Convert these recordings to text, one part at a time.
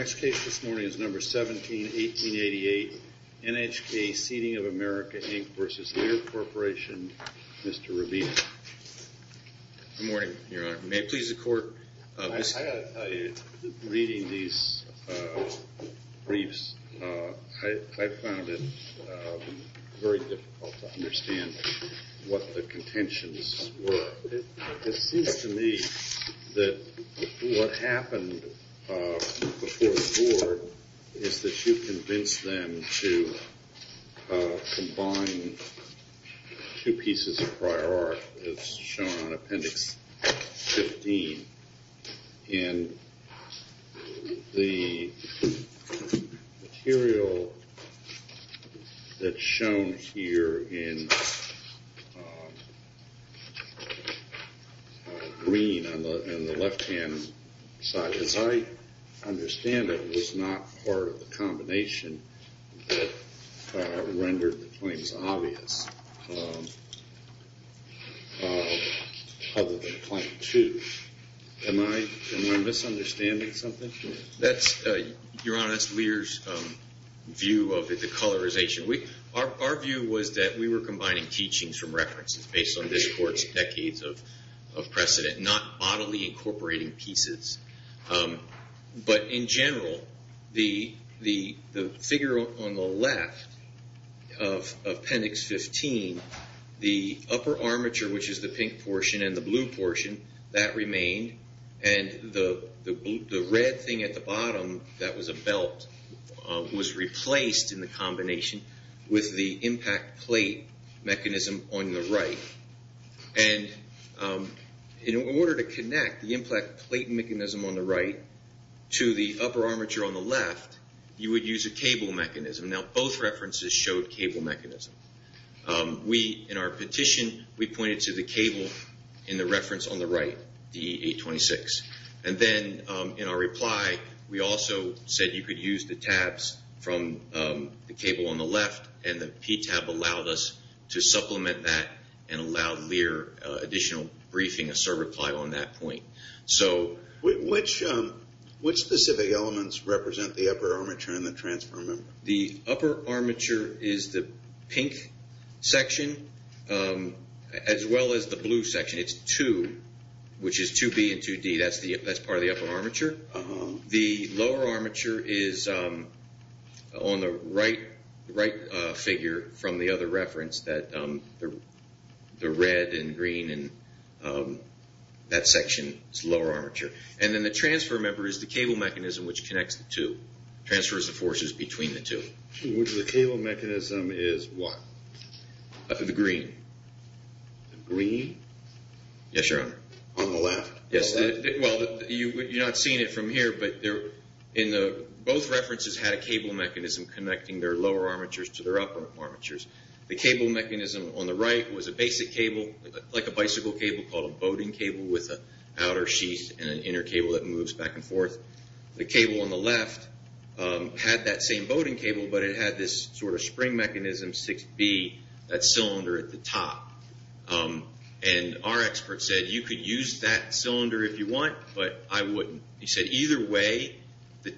Next case this morning is number 17-1888, NHK Seating of America, Inc. v. Lear Corporation, Mr. Rubino. Good morning, Your Honor. May it please the Court, Mr. Rubino. Reading these briefs, I found it very difficult to understand what the contentions were. It seems to me that what happened before the Court is that you convinced them to combine two pieces of prior art, as shown on Appendix 15, and the material that's shown here in green on the left-hand side, as I understand it, was not part of the combination that rendered the claims obvious, other than claim two. Am I misunderstanding something? Your Honor, that's Lear's view of the decolorization. Our view was that we were combining teachings from references based on this Court's decades of precedent, not bodily incorporating pieces. But in general, the figure on the left of Appendix 15, the upper armature, which is the pink portion and the blue portion, that remained, and the red thing at the bottom, that was a belt, was replaced in the combination with the impact plate mechanism on the right. And in order to connect the impact plate mechanism on the right to the upper armature on the left, you would use a cable mechanism. Now, both references showed cable mechanisms. In our petition, we pointed to the cable in the reference on the right, DE-826. And then in our reply, we also said you could use the tabs from the cable on the left, and the P tab allowed us to supplement that and allowed Lear additional briefing, providing a certify on that point. Which specific elements represent the upper armature and the transfer member? The upper armature is the pink section, as well as the blue section. It's two, which is 2B and 2D. That's part of the upper armature. The lower armature is on the right figure from the other reference, the red and green, and that section is the lower armature. And then the transfer member is the cable mechanism, which connects the two, transfers the forces between the two. The cable mechanism is what? The green. The green? Yes, Your Honor. On the left. Well, you're not seeing it from here, but both references had a cable mechanism connecting their lower armatures to their upper armatures. The cable mechanism on the right was a basic cable, like a bicycle cable, called a bowding cable with an outer sheath and an inner cable that moves back and forth. The cable on the left had that same bowding cable, but it had this sort of spring mechanism, 6B, that cylinder at the top. And our expert said, you could use that cylinder if you want, but I wouldn't. He said, either way, the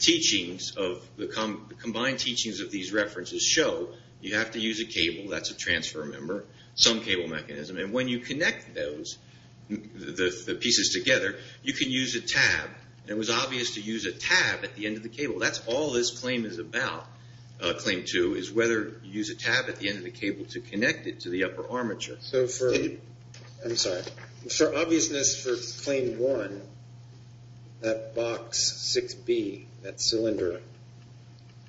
combined teachings of these references show you have to use a cable. That's a transfer member, some cable mechanism. And when you connect the pieces together, you can use a tab. It was obvious to use a tab at the end of the cable. That's all this claim is about, Claim 2, is whether you use a tab at the end of the cable to connect it to the upper armature. I'm sorry. For obviousness for Claim 1, that box 6B, that cylinder,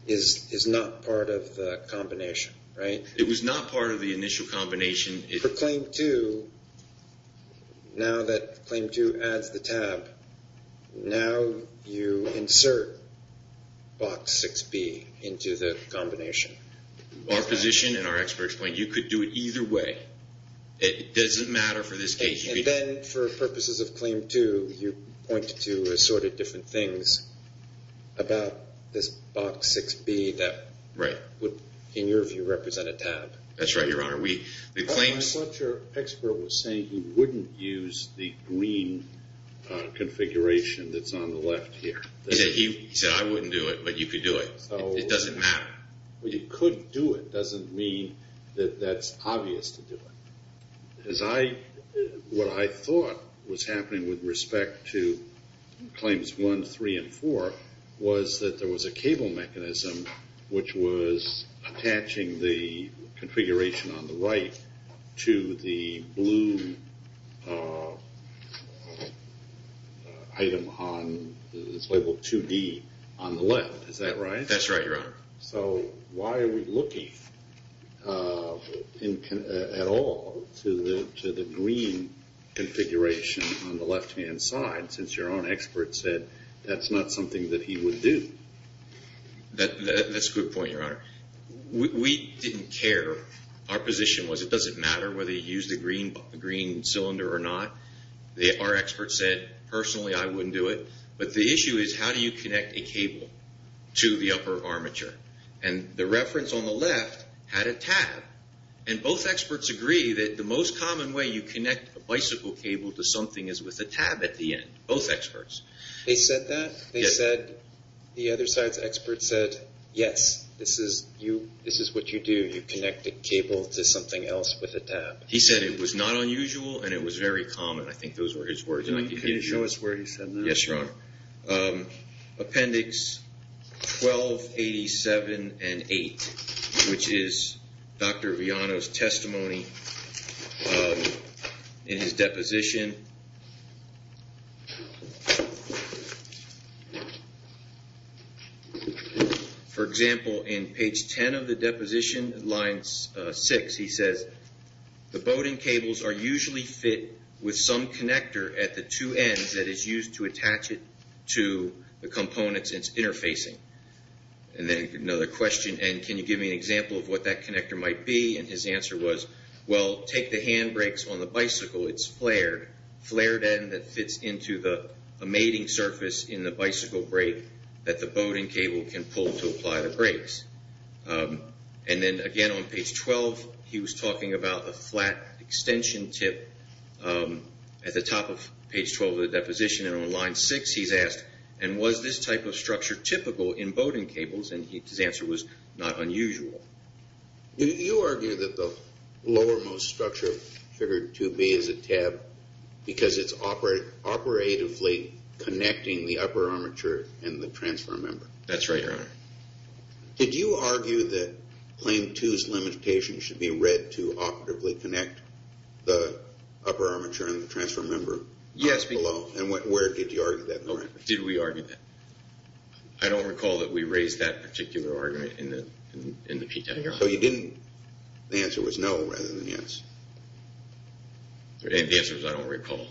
is not part of the combination, right? It was not part of the initial combination. For Claim 2, now that Claim 2 adds the tab, now you insert box 6B into the combination. Our position and our expert explained, you could do it either way. It doesn't matter for this case. And then for purposes of Claim 2, you point to assorted different things about this box 6B that would, in your view, represent a tab. That's right, Your Honor. I thought your expert was saying he wouldn't use the green configuration that's on the left here. He said, I wouldn't do it, but you could do it. It doesn't matter. You could do it. It doesn't mean that that's obvious to do it. What I thought was happening with respect to Claims 1, 3, and 4 was that there was a cable mechanism, which was attaching the configuration on the right to the blue item labeled 2D on the left. Is that right? That's right, Your Honor. So why are we looking at all to the green configuration on the left-hand side, since your own expert said that's not something that he would do? That's a good point, Your Honor. We didn't care. Our position was it doesn't matter whether you use the green cylinder or not. Our expert said, personally, I wouldn't do it. But the issue is how do you connect a cable to the upper armature? And the reference on the left had a tab. And both experts agree that the most common way you connect a bicycle cable to something is with a tab at the end, both experts. They said that? Yes. They said the other side's expert said, yes, this is what you do. You connect a cable to something else with a tab. He said it was not unusual and it was very common. I think those were his words. Can you show us where he said that? Yes, Your Honor. Appendix 1287 and 8, which is Dr. Viano's testimony in his deposition. For example, in page 10 of the deposition, line 6, he says, the Bowden cables are usually fit with some connector at the two ends that is used to attach it to the components it's interfacing. And then another question, and can you give me an example of what that connector might be? And his answer was, well, take the hand brakes on the bicycle. It's flared, flared end that fits into the mating surface in the bicycle brake that the Bowden cable can pull to apply the brakes. And then again on page 12, he was talking about the flat extension tip at the top of page 12 of the deposition. And on line 6, he's asked, and was this type of structure typical in Bowden cables? And his answer was, not unusual. You argue that the lowermost structure, figure 2B, is a tab because it's operatively connecting the upper armature and the transfer member. That's right, Your Honor. Did you argue that claim 2's limitation should be read to operatively connect the upper armature and the transfer member? Yes. And where did you argue that in the record? Did we argue that? I don't recall that we raised that particular argument in the PTA. So you didn't, the answer was no rather than yes? And the answer was, I don't recall.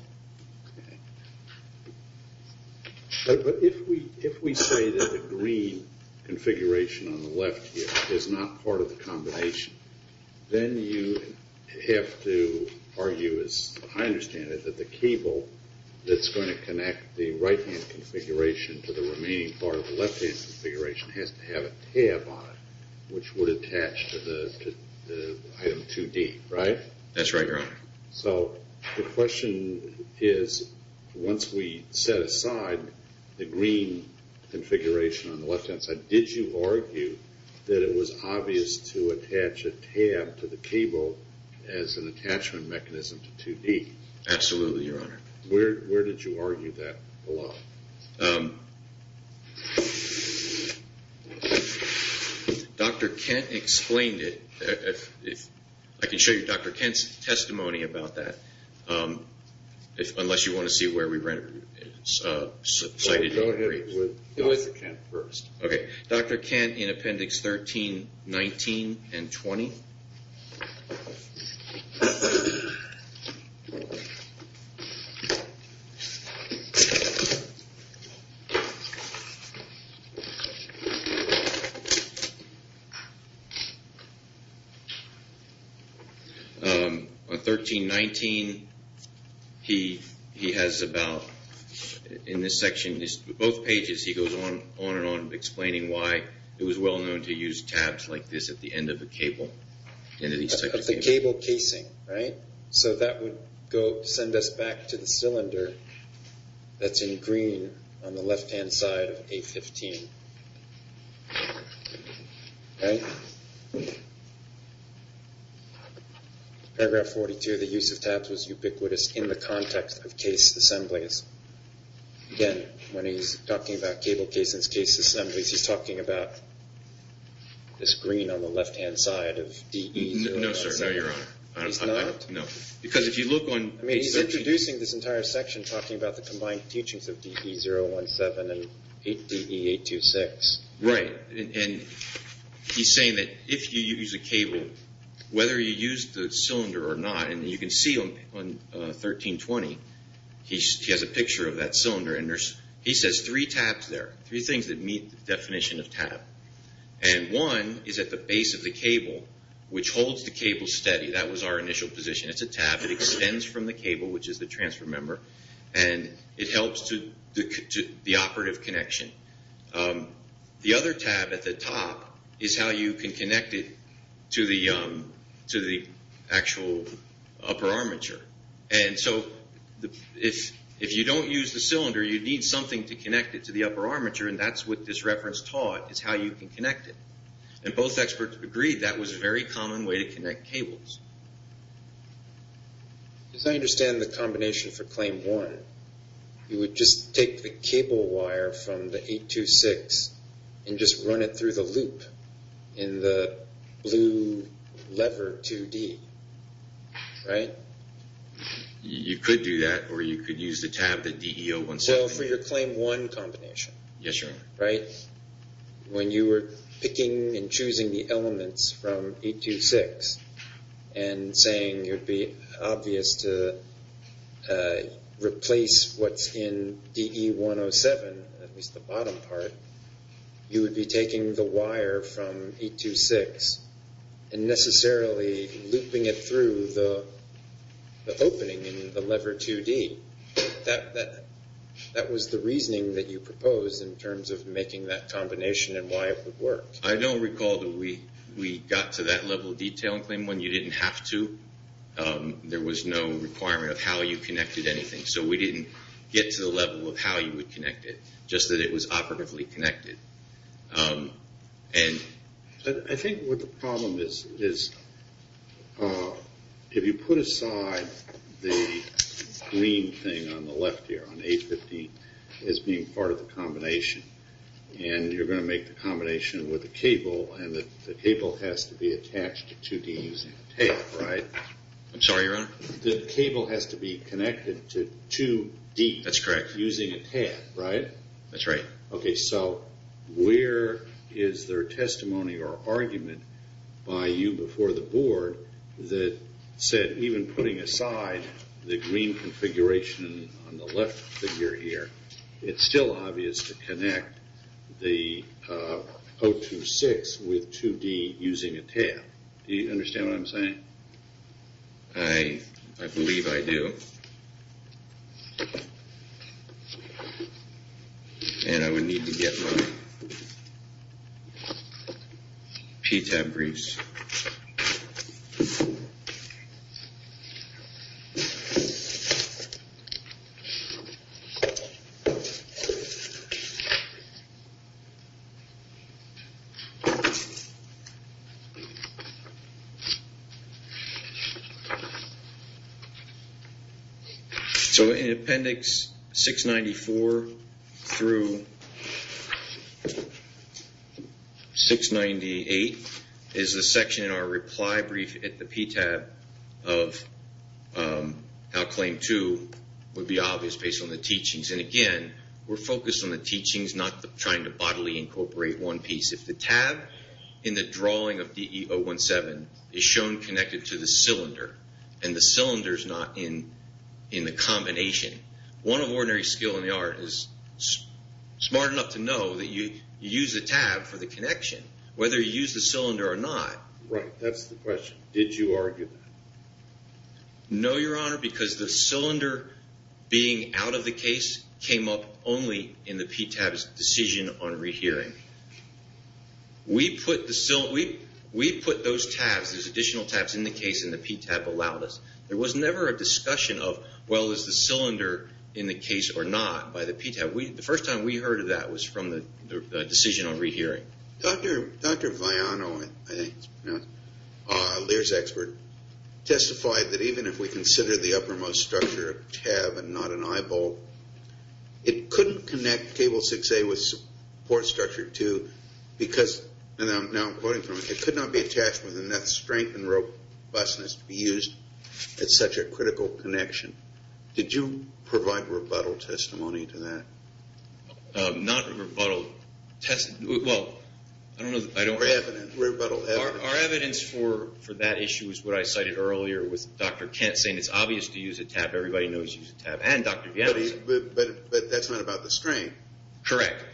But if we say that the green configuration on the left here is not part of the combination, then you have to argue, as I understand it, that the cable that's going to connect the right-hand configuration to the remaining part of the left-hand configuration has to have a tab on it, which would attach to the item 2D, right? That's right, Your Honor. So the question is, once we set aside the green configuration on the left-hand side, did you argue that it was obvious to attach a tab to the cable as an attachment mechanism to 2D? Absolutely, Your Honor. Where did you argue that the law? Dr. Kent explained it. I can show you Dr. Kent's testimony about that, unless you want to see where we rented it. Go ahead with Dr. Kent first. Okay. Dr. Kent in Appendix 13, 19, and 20. Okay. On 13, 19, he has about, in this section, both pages he goes on and on explaining why it was well-known to use tabs like this at the end of a cable. Of the cable casing, right? So that would send us back to the cylinder that's in green on the left-hand side of A15, right? Paragraph 42, the use of tabs was ubiquitous in the context of case assemblies. Again, when he's talking about cable casings, case assemblies, he's talking about this green on the left-hand side of DE 017. No, sir. No, Your Honor. He's not? No. Because if you look on… I mean, he's introducing this entire section, talking about the combined teachings of DE 017 and DE 826. Right. And he's saying that if you use a cable, whether you use the cylinder or not, and you can see on 13, 20, he has a picture of that cylinder, and he says three tabs there, three things that meet the definition of tab. And one is at the base of the cable, which holds the cable steady. That was our initial position. It's a tab. It extends from the cable, which is the transfer member, and it helps the operative connection. The other tab at the top is how you can connect it to the actual upper armature. And so if you don't use the cylinder, you need something to connect it to the upper armature, and that's what this reference taught, is how you can connect it. And both experts agreed that was a very common way to connect cables. As I understand the combination for Claim 1, you would just take the cable wire from the 826 and just run it through the loop in the blue lever 2D, right? You could do that, or you could use the tab, the DE 017. Well, for your Claim 1 combination. Yes, Your Honor. Right? When you were picking and choosing the elements from 826 and saying it would be obvious to replace what's in DE 107, at least the bottom part, you would be taking the wire from 826 and necessarily looping it through the opening in the lever 2D. That was the reasoning that you proposed in terms of making that combination and why it would work. I don't recall that we got to that level of detail in Claim 1. You didn't have to. There was no requirement of how you connected anything. So we didn't get to the level of how you would connect it, just that it was operatively connected. I think what the problem is, if you put aside the green thing on the left here, on 815, as being part of the combination, and you're going to make the combination with the cable, and the cable has to be attached to 2D using the tab, right? I'm sorry, Your Honor? The cable has to be connected to 2D. That's correct. Using a tab, right? That's right. Okay, so where is there testimony or argument by you before the Board that said, even putting aside the green configuration on the left figure here, it's still obvious to connect the 026 with 2D using a tab. Do you understand what I'm saying? I believe I do. And I would need to get my PTAB briefs. So in Appendix 694 through 698 is the section in our reply brief at the PTAB of how Claim 2 would be obvious, based on the teachings. And again, we're focused on the teachings, not trying to bodily incorporate one piece. If the tab in the drawing of DE-017 is shown connected to the cylinder and the cylinder is not in the combination, one of ordinary skill in the art is smart enough to know that you use the tab for the connection, whether you use the cylinder or not. Right, that's the question. Did you argue that? No, Your Honor, because the cylinder being out of the case came up only in the PTAB's decision on rehearing. We put those tabs, those additional tabs in the case and the PTAB allowed us. There was never a discussion of, well, is the cylinder in the case or not, by the PTAB. The first time we heard of that was from the decision on rehearing. Dr. Vajano, I think it's pronounced, Lear's expert, testified that even if we consider the uppermost structure a tab and not an eyeball, it couldn't connect table 6A with support structure 2 because, and now I'm quoting from it, it could not be attached with enough strength and robustness to be used at such a critical connection. Did you provide rebuttal testimony to that? Not rebuttal testimony, well, I don't know. Rebuttal evidence. Our evidence for that issue is what I cited earlier with Dr. Kent saying it's obvious to use a tab, everybody knows you use a tab, and Dr. Vajano. But that's not about the strength. Correct.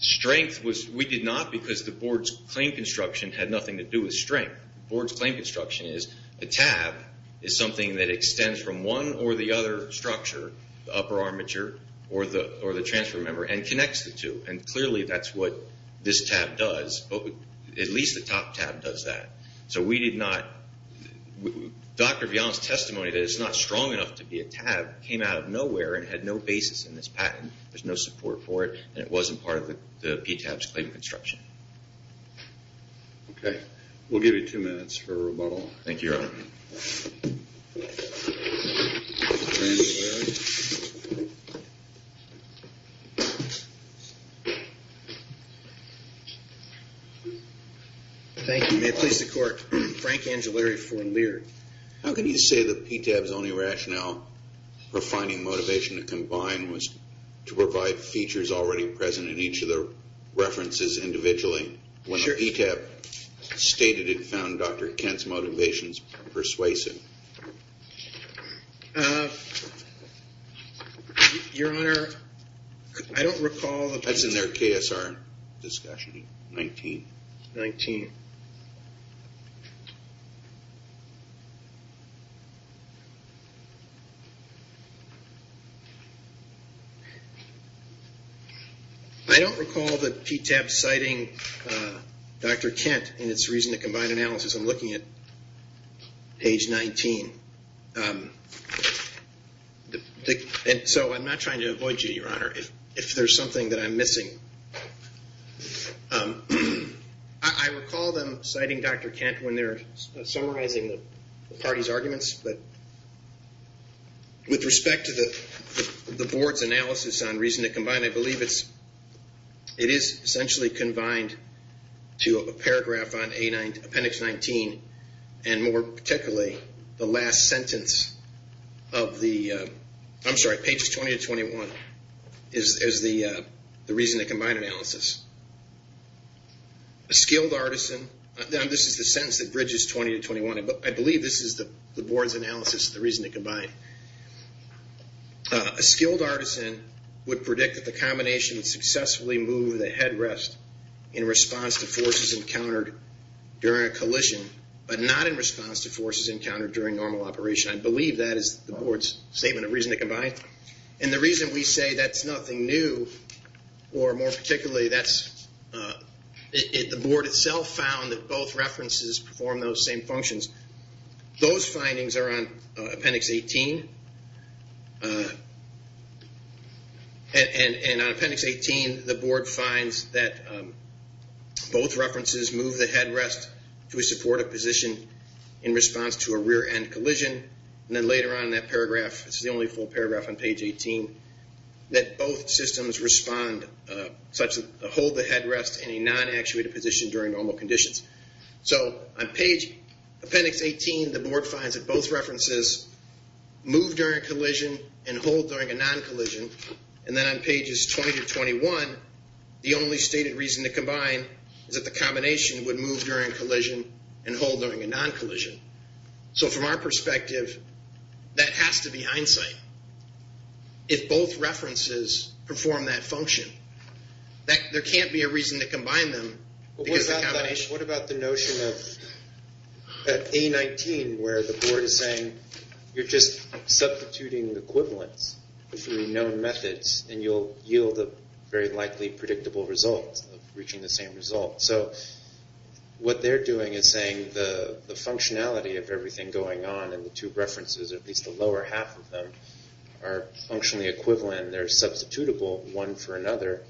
Strength was, we did not because the board's claim construction had nothing to do with strength. The board's claim construction is a tab is something that extends from one or the other structure, the upper armature or the transfer member, and connects the two. And clearly that's what this tab does, at least the top tab does that. So we did not, Dr. Vajano's testimony that it's not strong enough to be a tab came out of nowhere and had no basis in this patent. There's no support for it, and it wasn't part of the PTAB's claim construction. Okay. We'll give you two minutes for rebuttal. Thank you, Your Honor. Frank Angellari. Thank you. May it please the Court. Frank Angellari for Lear. How can you say that PTAB's only rationale for finding motivation to combine was to provide features already present in each of the references individually? Sure. Where PTAB stated it found Dr. Kent's motivations persuasive? Your Honor, I don't recall. That's in their KSR discussion, 19. 19. I don't recall that PTAB citing Dr. Kent in its reason to combine analysis. I'm looking at page 19. So I'm not trying to avoid you, Your Honor, if there's something that I'm missing. I recall them citing Dr. Kent when they're summarizing the party's arguments, but with respect to the Board's analysis on reason to combine, I believe it is essentially combined to a paragraph on Appendix 19, and more particularly the last sentence of the, I'm sorry, pages 20 to 21, is the reason to combine analysis. A skilled artisan, and this is the sentence that bridges 20 to 21, but I believe this is the Board's analysis of the reason to combine. A skilled artisan would predict that the combination would successfully move the headrest in response to forces encountered during a collision, but not in response to forces encountered during normal operation. I believe that is the Board's statement of reason to combine. And the reason we say that's nothing new, or more particularly, the Board itself found that both references perform those same functions. Those findings are on Appendix 18. And on Appendix 18, the Board finds that both references move the headrest to support a position in response to a rear-end collision. And then later on in that paragraph, this is the only full paragraph on page 18, that both systems respond such that they hold the headrest in a non-actuated position during normal conditions. So on page Appendix 18, the Board finds that both references move during a collision and hold during a non-collision. And then on pages 20 to 21, the only stated reason to combine is that the combination would move during a collision and hold during a non-collision. So from our perspective, that has to be hindsight. If both references perform that function, there can't be a reason to combine them. What about the notion of, at A19, where the Board is saying, you're just substituting equivalents through known methods, and you'll yield a very likely predictable result of reaching the same result. So what they're doing is saying the functionality of everything going on in the two references, at least the lower half of them, are functionally equivalent, and they're substitutable one for another.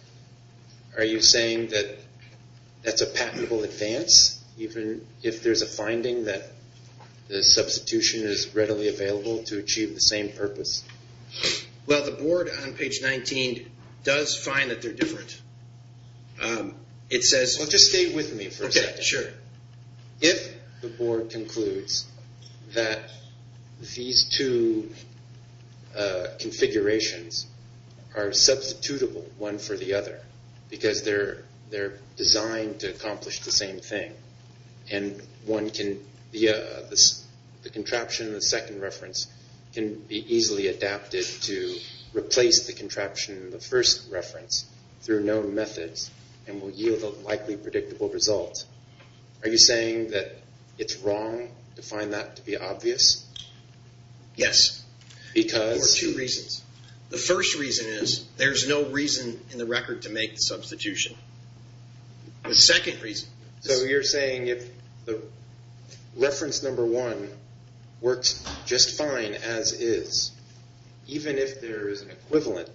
Are you saying that that's a patentable advance, even if there's a finding that the substitution is readily available to achieve the same purpose? Well, the Board on page 19 does find that they're different. Well, just stay with me for a second. Okay, sure. If the Board concludes that these two configurations are substitutable one for the other, because they're designed to accomplish the same thing, and the contraption in the second reference can be easily adapted to replace the contraption in the first reference through known methods and will yield a likely predictable result, are you saying that it's wrong to find that to be obvious? Yes. Because? For two reasons. The first reason is there's no reason in the record to make the substitution. The second reason is... So you're saying if reference number one works just fine as is, even if there is an equivalent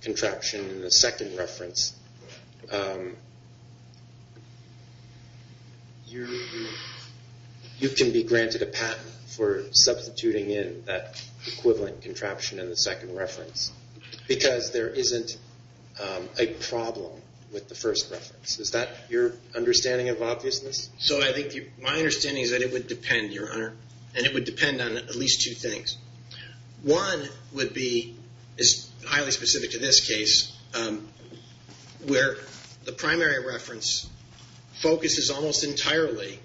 contraption in the second reference, you can be granted a patent for substituting in that equivalent contraption in the second reference because there isn't a problem with the first reference. Is that your understanding of obviousness? So I think my understanding is that it would depend, Your Honor, and it would depend on at least two things. One would be, is highly specific to this case, where the primary reference focuses almost entirely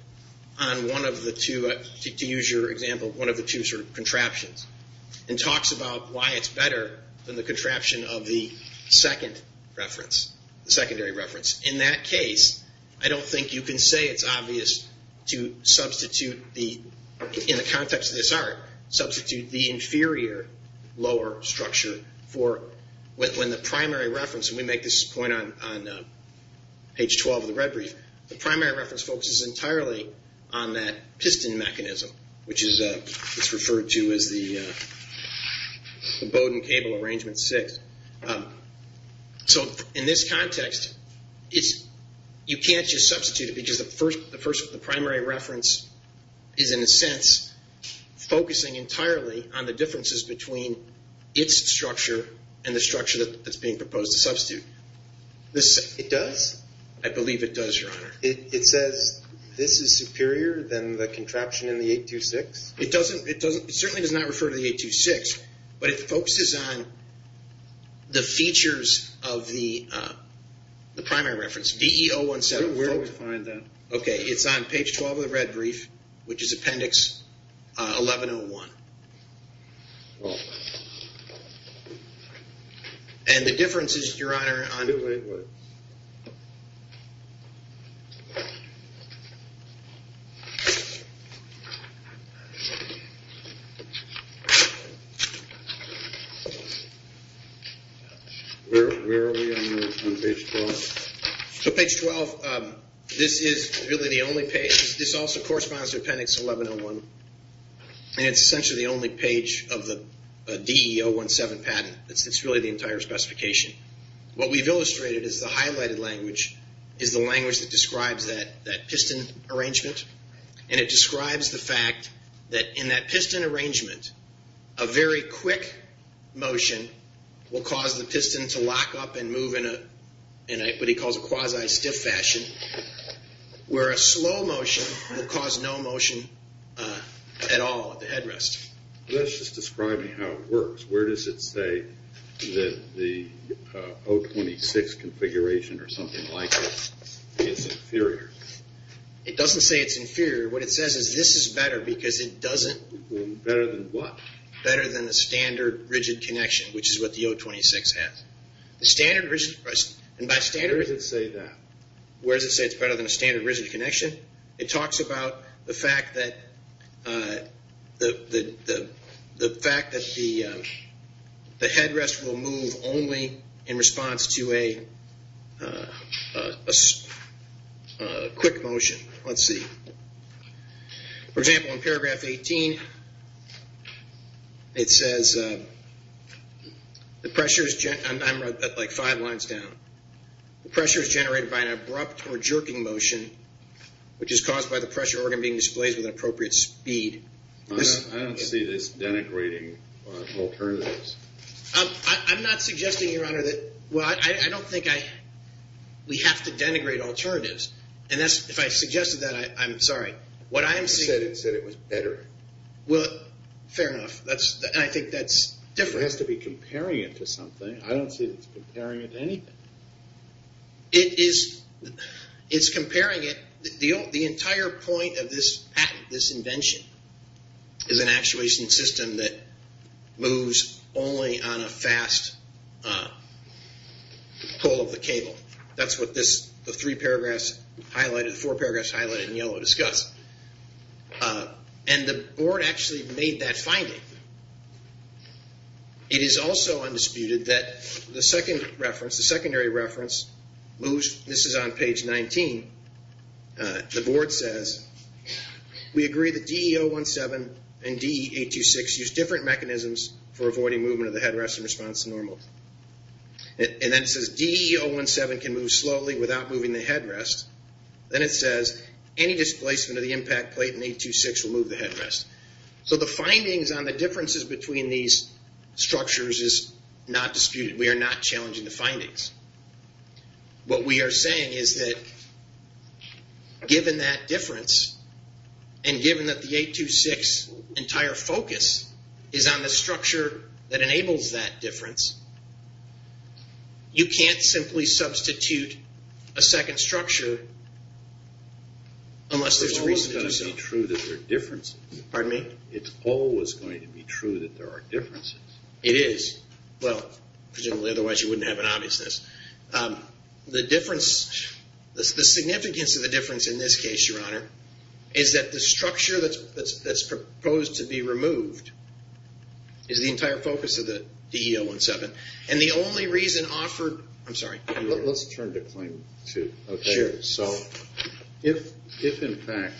on one of the two, to use your example, one of the two sort of contraptions, and talks about why it's better than the contraption of the second reference, the secondary reference. In that case, I don't think you can say it's obvious to substitute the, in the context of this art, substitute the inferior lower structure for when the primary reference, and we make this point on page 12 of the red brief, the primary reference focuses entirely on that piston mechanism, which is referred to as the Bowden cable arrangement six. So in this context, you can't just substitute it because the primary reference is, in a sense, focusing entirely on the differences between its structure and the structure that's being proposed to substitute. It does? I believe it does, Your Honor. It says this is superior than the contraption in the 826? It doesn't, it certainly does not refer to the 826, but it focuses on the features of the primary reference. Where do we find that? Okay, it's on page 12 of the red brief, which is appendix 1101. And the difference is, Your Honor. Where are we on page 12? So page 12, this is really the only page. This also corresponds to appendix 1101, and it's essentially the only page of the DE 017 patent. It's really the entire specification. What we've illustrated is the highlighted language is the language that describes that piston arrangement, and it describes the fact that in that piston arrangement, a very quick motion will cause the piston to lock up and move in what he calls a quasi-stiff fashion, where a slow motion will cause no motion at all at the headrest. That's just describing how it works. Where does it say that the 026 configuration or something like it is inferior? It doesn't say it's inferior. What it says is this is better because it doesn't. Better than what? Better than the standard rigid connection, which is what the 026 has. Where does it say that? Where does it say it's better than a standard rigid connection? It talks about the fact that the headrest will move only in response to a quick motion. Let's see. For example, in paragraph 18, it says, I'm like five lines down. The pressure is generated by an abrupt or jerking motion, which is caused by the pressure organ being displaced with an appropriate speed. I don't see this denigrating alternatives. I'm not suggesting, Your Honor, that I don't think we have to denigrate alternatives. If I suggested that, I'm sorry. You said it was better. Fair enough. I think that's different. It has to be comparing it to something. I don't see it's comparing it to anything. It's comparing it. The entire point of this patent, this invention, is an actuation system that moves only on a fast pull of the cable. That's what the three paragraphs highlighted, the four paragraphs highlighted in yellow discuss. And the board actually made that finding. It is also undisputed that the secondary reference moves. This is on page 19. The board says, we agree that DE-017 and DE-826 use different mechanisms for avoiding movement of the headrest in response to normal. And then it says, DE-017 can move slowly without moving the headrest. Then it says, any displacement of the impact plate in 826 will move the headrest. So the findings on the differences between these structures is not disputed. We are not challenging the findings. What we are saying is that given that difference and given that the 826 entire focus is on the structure that enables that difference, you can't simply substitute a second structure unless there's a reason to do so. It's always going to be true that there are differences. Pardon me? It's always going to be true that there are differences. It is. Well, presumably otherwise you wouldn't have an obviousness. The difference, the significance of the difference in this case, Your Honor, is that the structure that's proposed to be removed is the entire focus of the DE-017. And the only reason offered, I'm sorry. Sure. So if, in fact,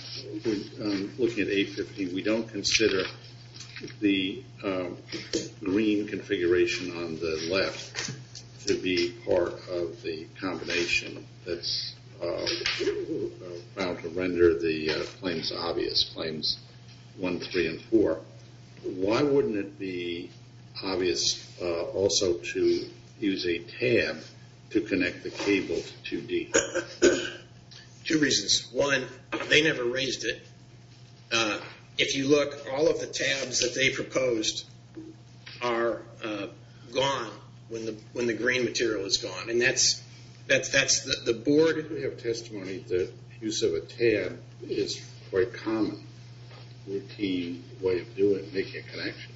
looking at 850, we don't consider the green configuration on the left to be part of the combination that's bound to render the claims obvious, claims 1, 3, and 4, why wouldn't it be obvious also to use a tab to connect the cable to 2D? Two reasons. One, they never raised it. If you look, all of the tabs that they proposed are gone when the green material is gone. And that's the board. Why did we have testimony that use of a tab is quite common, routine way of doing, making a connection?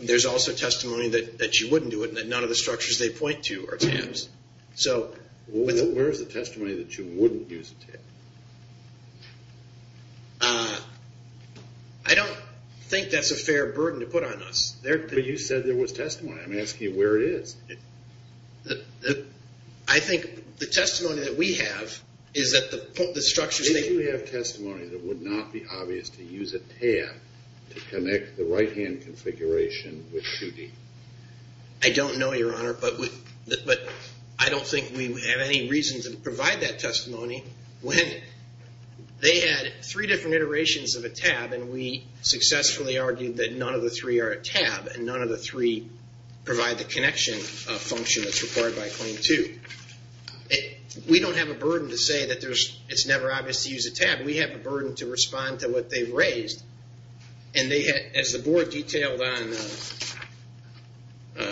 There's also testimony that you wouldn't do it and that none of the structures they point to are tabs. So where is the testimony that you wouldn't use a tab? I don't think that's a fair burden to put on us. But you said there was testimony. I'm asking you where it is. I think the testimony that we have is that the structures that you have. If you have testimony that would not be obvious to use a tab to connect the right-hand configuration with 2D? I don't know, Your Honor, but I don't think we have any reason to provide that testimony when they had three different iterations of a tab and we successfully argued that none of the three are a tab and none of the three provide the connection function that's required by Claim 2. We don't have a burden to say that it's never obvious to use a tab. We have a burden to respond to what they've raised. And as the board detailed on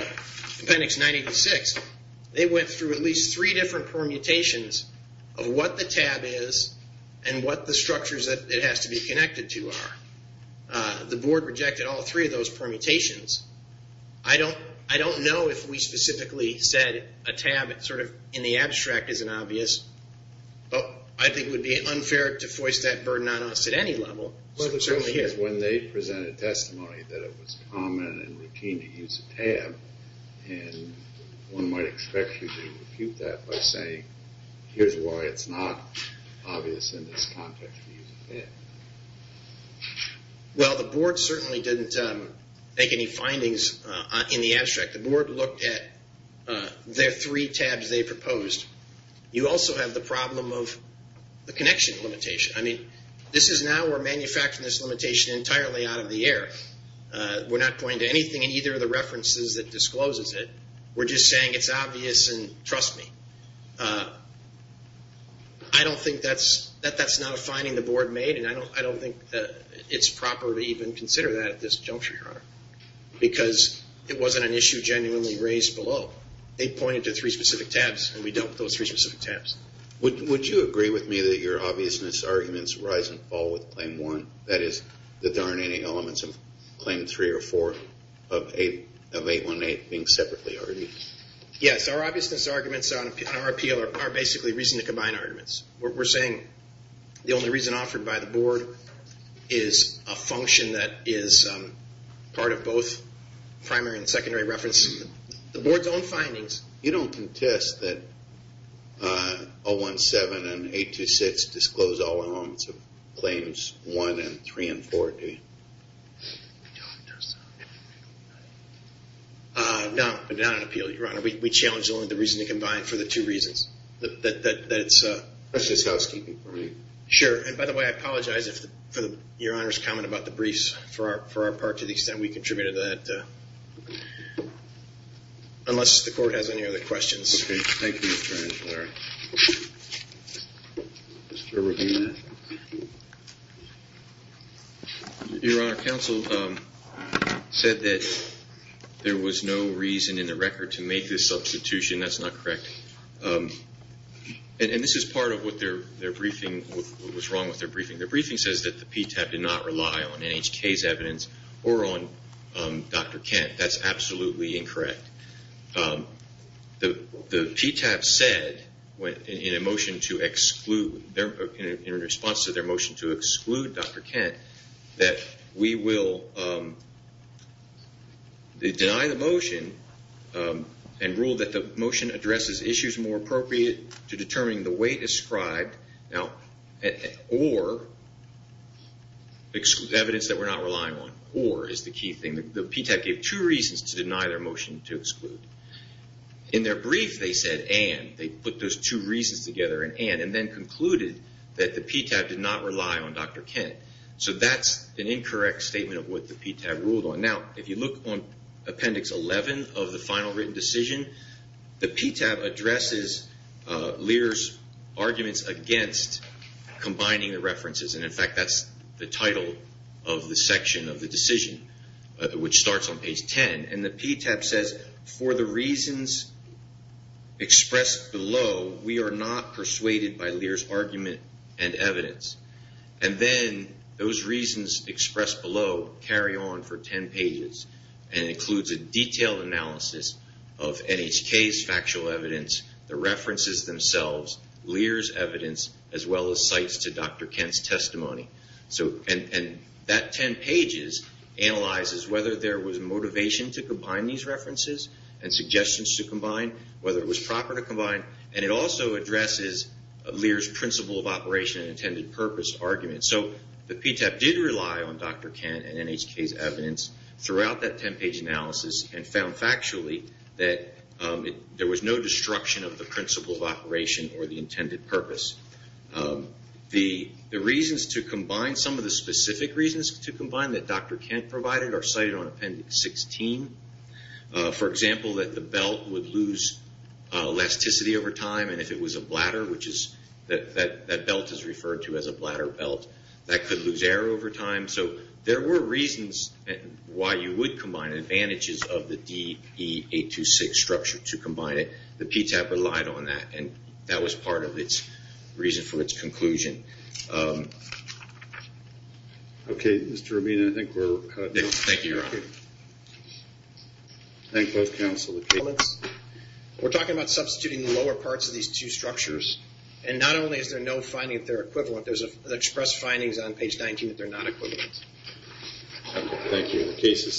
Appendix 986, they went through at least three different permutations of what the tab is and what the structures that it has to be connected to are. The board rejected all three of those permutations. I don't know if we specifically said a tab sort of in the abstract isn't obvious, but I think it would be unfair to force that burden on us at any level. Certainly when they presented testimony that it was common and routine to use a tab, and one might expect you to refute that by saying, here's why it's not obvious in this context to use a tab. Well, the board certainly didn't make any findings in the abstract. The board looked at their three tabs they proposed. You also have the problem of the connection limitation. I mean, this is now we're manufacturing this limitation entirely out of the air. We're not pointing to anything in either of the references that discloses it. We're just saying it's obvious and trust me. I don't think that's not a finding the board made, and I don't think it's proper to even consider that at this juncture, Your Honor, because it wasn't an issue genuinely raised below. They pointed to three specific tabs, and we dealt with those three specific tabs. Would you agree with me that your obviousness arguments rise and fall with Claim 1? That is, that there aren't any elements of Claim 3 or 4 of 818 being separately argued? Yes, our obviousness arguments in our appeal are basically reason to combine arguments. We're saying the only reason offered by the board is a function that is part of both primary and secondary reference. The board's own findings. You don't contest that 017 and 826 disclose all elements of Claims 1 and 3 and 4, do you? No, but not in appeal, Your Honor. We challenge only the reason to combine for the two reasons. That's just housekeeping for me. Sure, and by the way, I apologize for Your Honor's comment about the briefs. For our part, to the extent we contributed to that, unless the court has any other questions. Okay, thank you, Mr. Angiolari. Mr. Rubino. Your Honor, counsel said that there was no reason in the record to make this substitution. That's not correct. And this is part of what their briefing, what was wrong with their briefing. Their briefing says that the PTAB did not rely on NHK's evidence or on Dr. Kent. That's absolutely incorrect. The PTAB said in a motion to exclude, in response to their motion to exclude Dr. Kent, that we will deny the motion and rule that the motion addresses issues more appropriate to determining the weight ascribed or evidence that we're not relying on. Or is the key thing. The PTAB gave two reasons to deny their motion to exclude. In their brief, they said and, they put those two reasons together in and, and then concluded that the PTAB did not rely on Dr. Kent. So that's an incorrect statement of what the PTAB ruled on. Now, if you look on Appendix 11 of the final written decision, the PTAB addresses Lear's arguments against combining the references. And, in fact, that's the title of the section of the decision, which starts on page 10. And the PTAB says, for the reasons expressed below, we are not persuaded by Lear's argument and evidence. And then those reasons expressed below carry on for 10 pages and includes a detailed analysis of NHK's factual evidence, the references themselves, Lear's evidence, as well as sites to Dr. Kent's testimony. And that 10 pages analyzes whether there was motivation to combine these references and suggestions to combine, whether it was proper to combine, and it also addresses Lear's principle of operation and intended purpose argument. So the PTAB did rely on Dr. Kent and NHK's evidence throughout that 10-page analysis and found factually that there was no destruction of the principle of operation or the intended purpose. The reasons to combine, some of the specific reasons to combine that Dr. Kent provided are cited on Appendix 16. For example, that the belt would lose elasticity over time, and if it was a bladder, which that belt is referred to as a bladder belt, that could lose air over time. So there were reasons why you would combine advantages of the DE-826 structure to combine it. The PTAB relied on that, and that was part of its reason for its conclusion. Okay, Mr. Romina, I think we're done. Thank you, Your Honor. Thank both counsel. We're talking about substituting the lower parts of these two structures, and not only is there no finding that they're equivalent, there's expressed findings on page 19 that they're not equivalent. Okay, thank you. The case is submitted.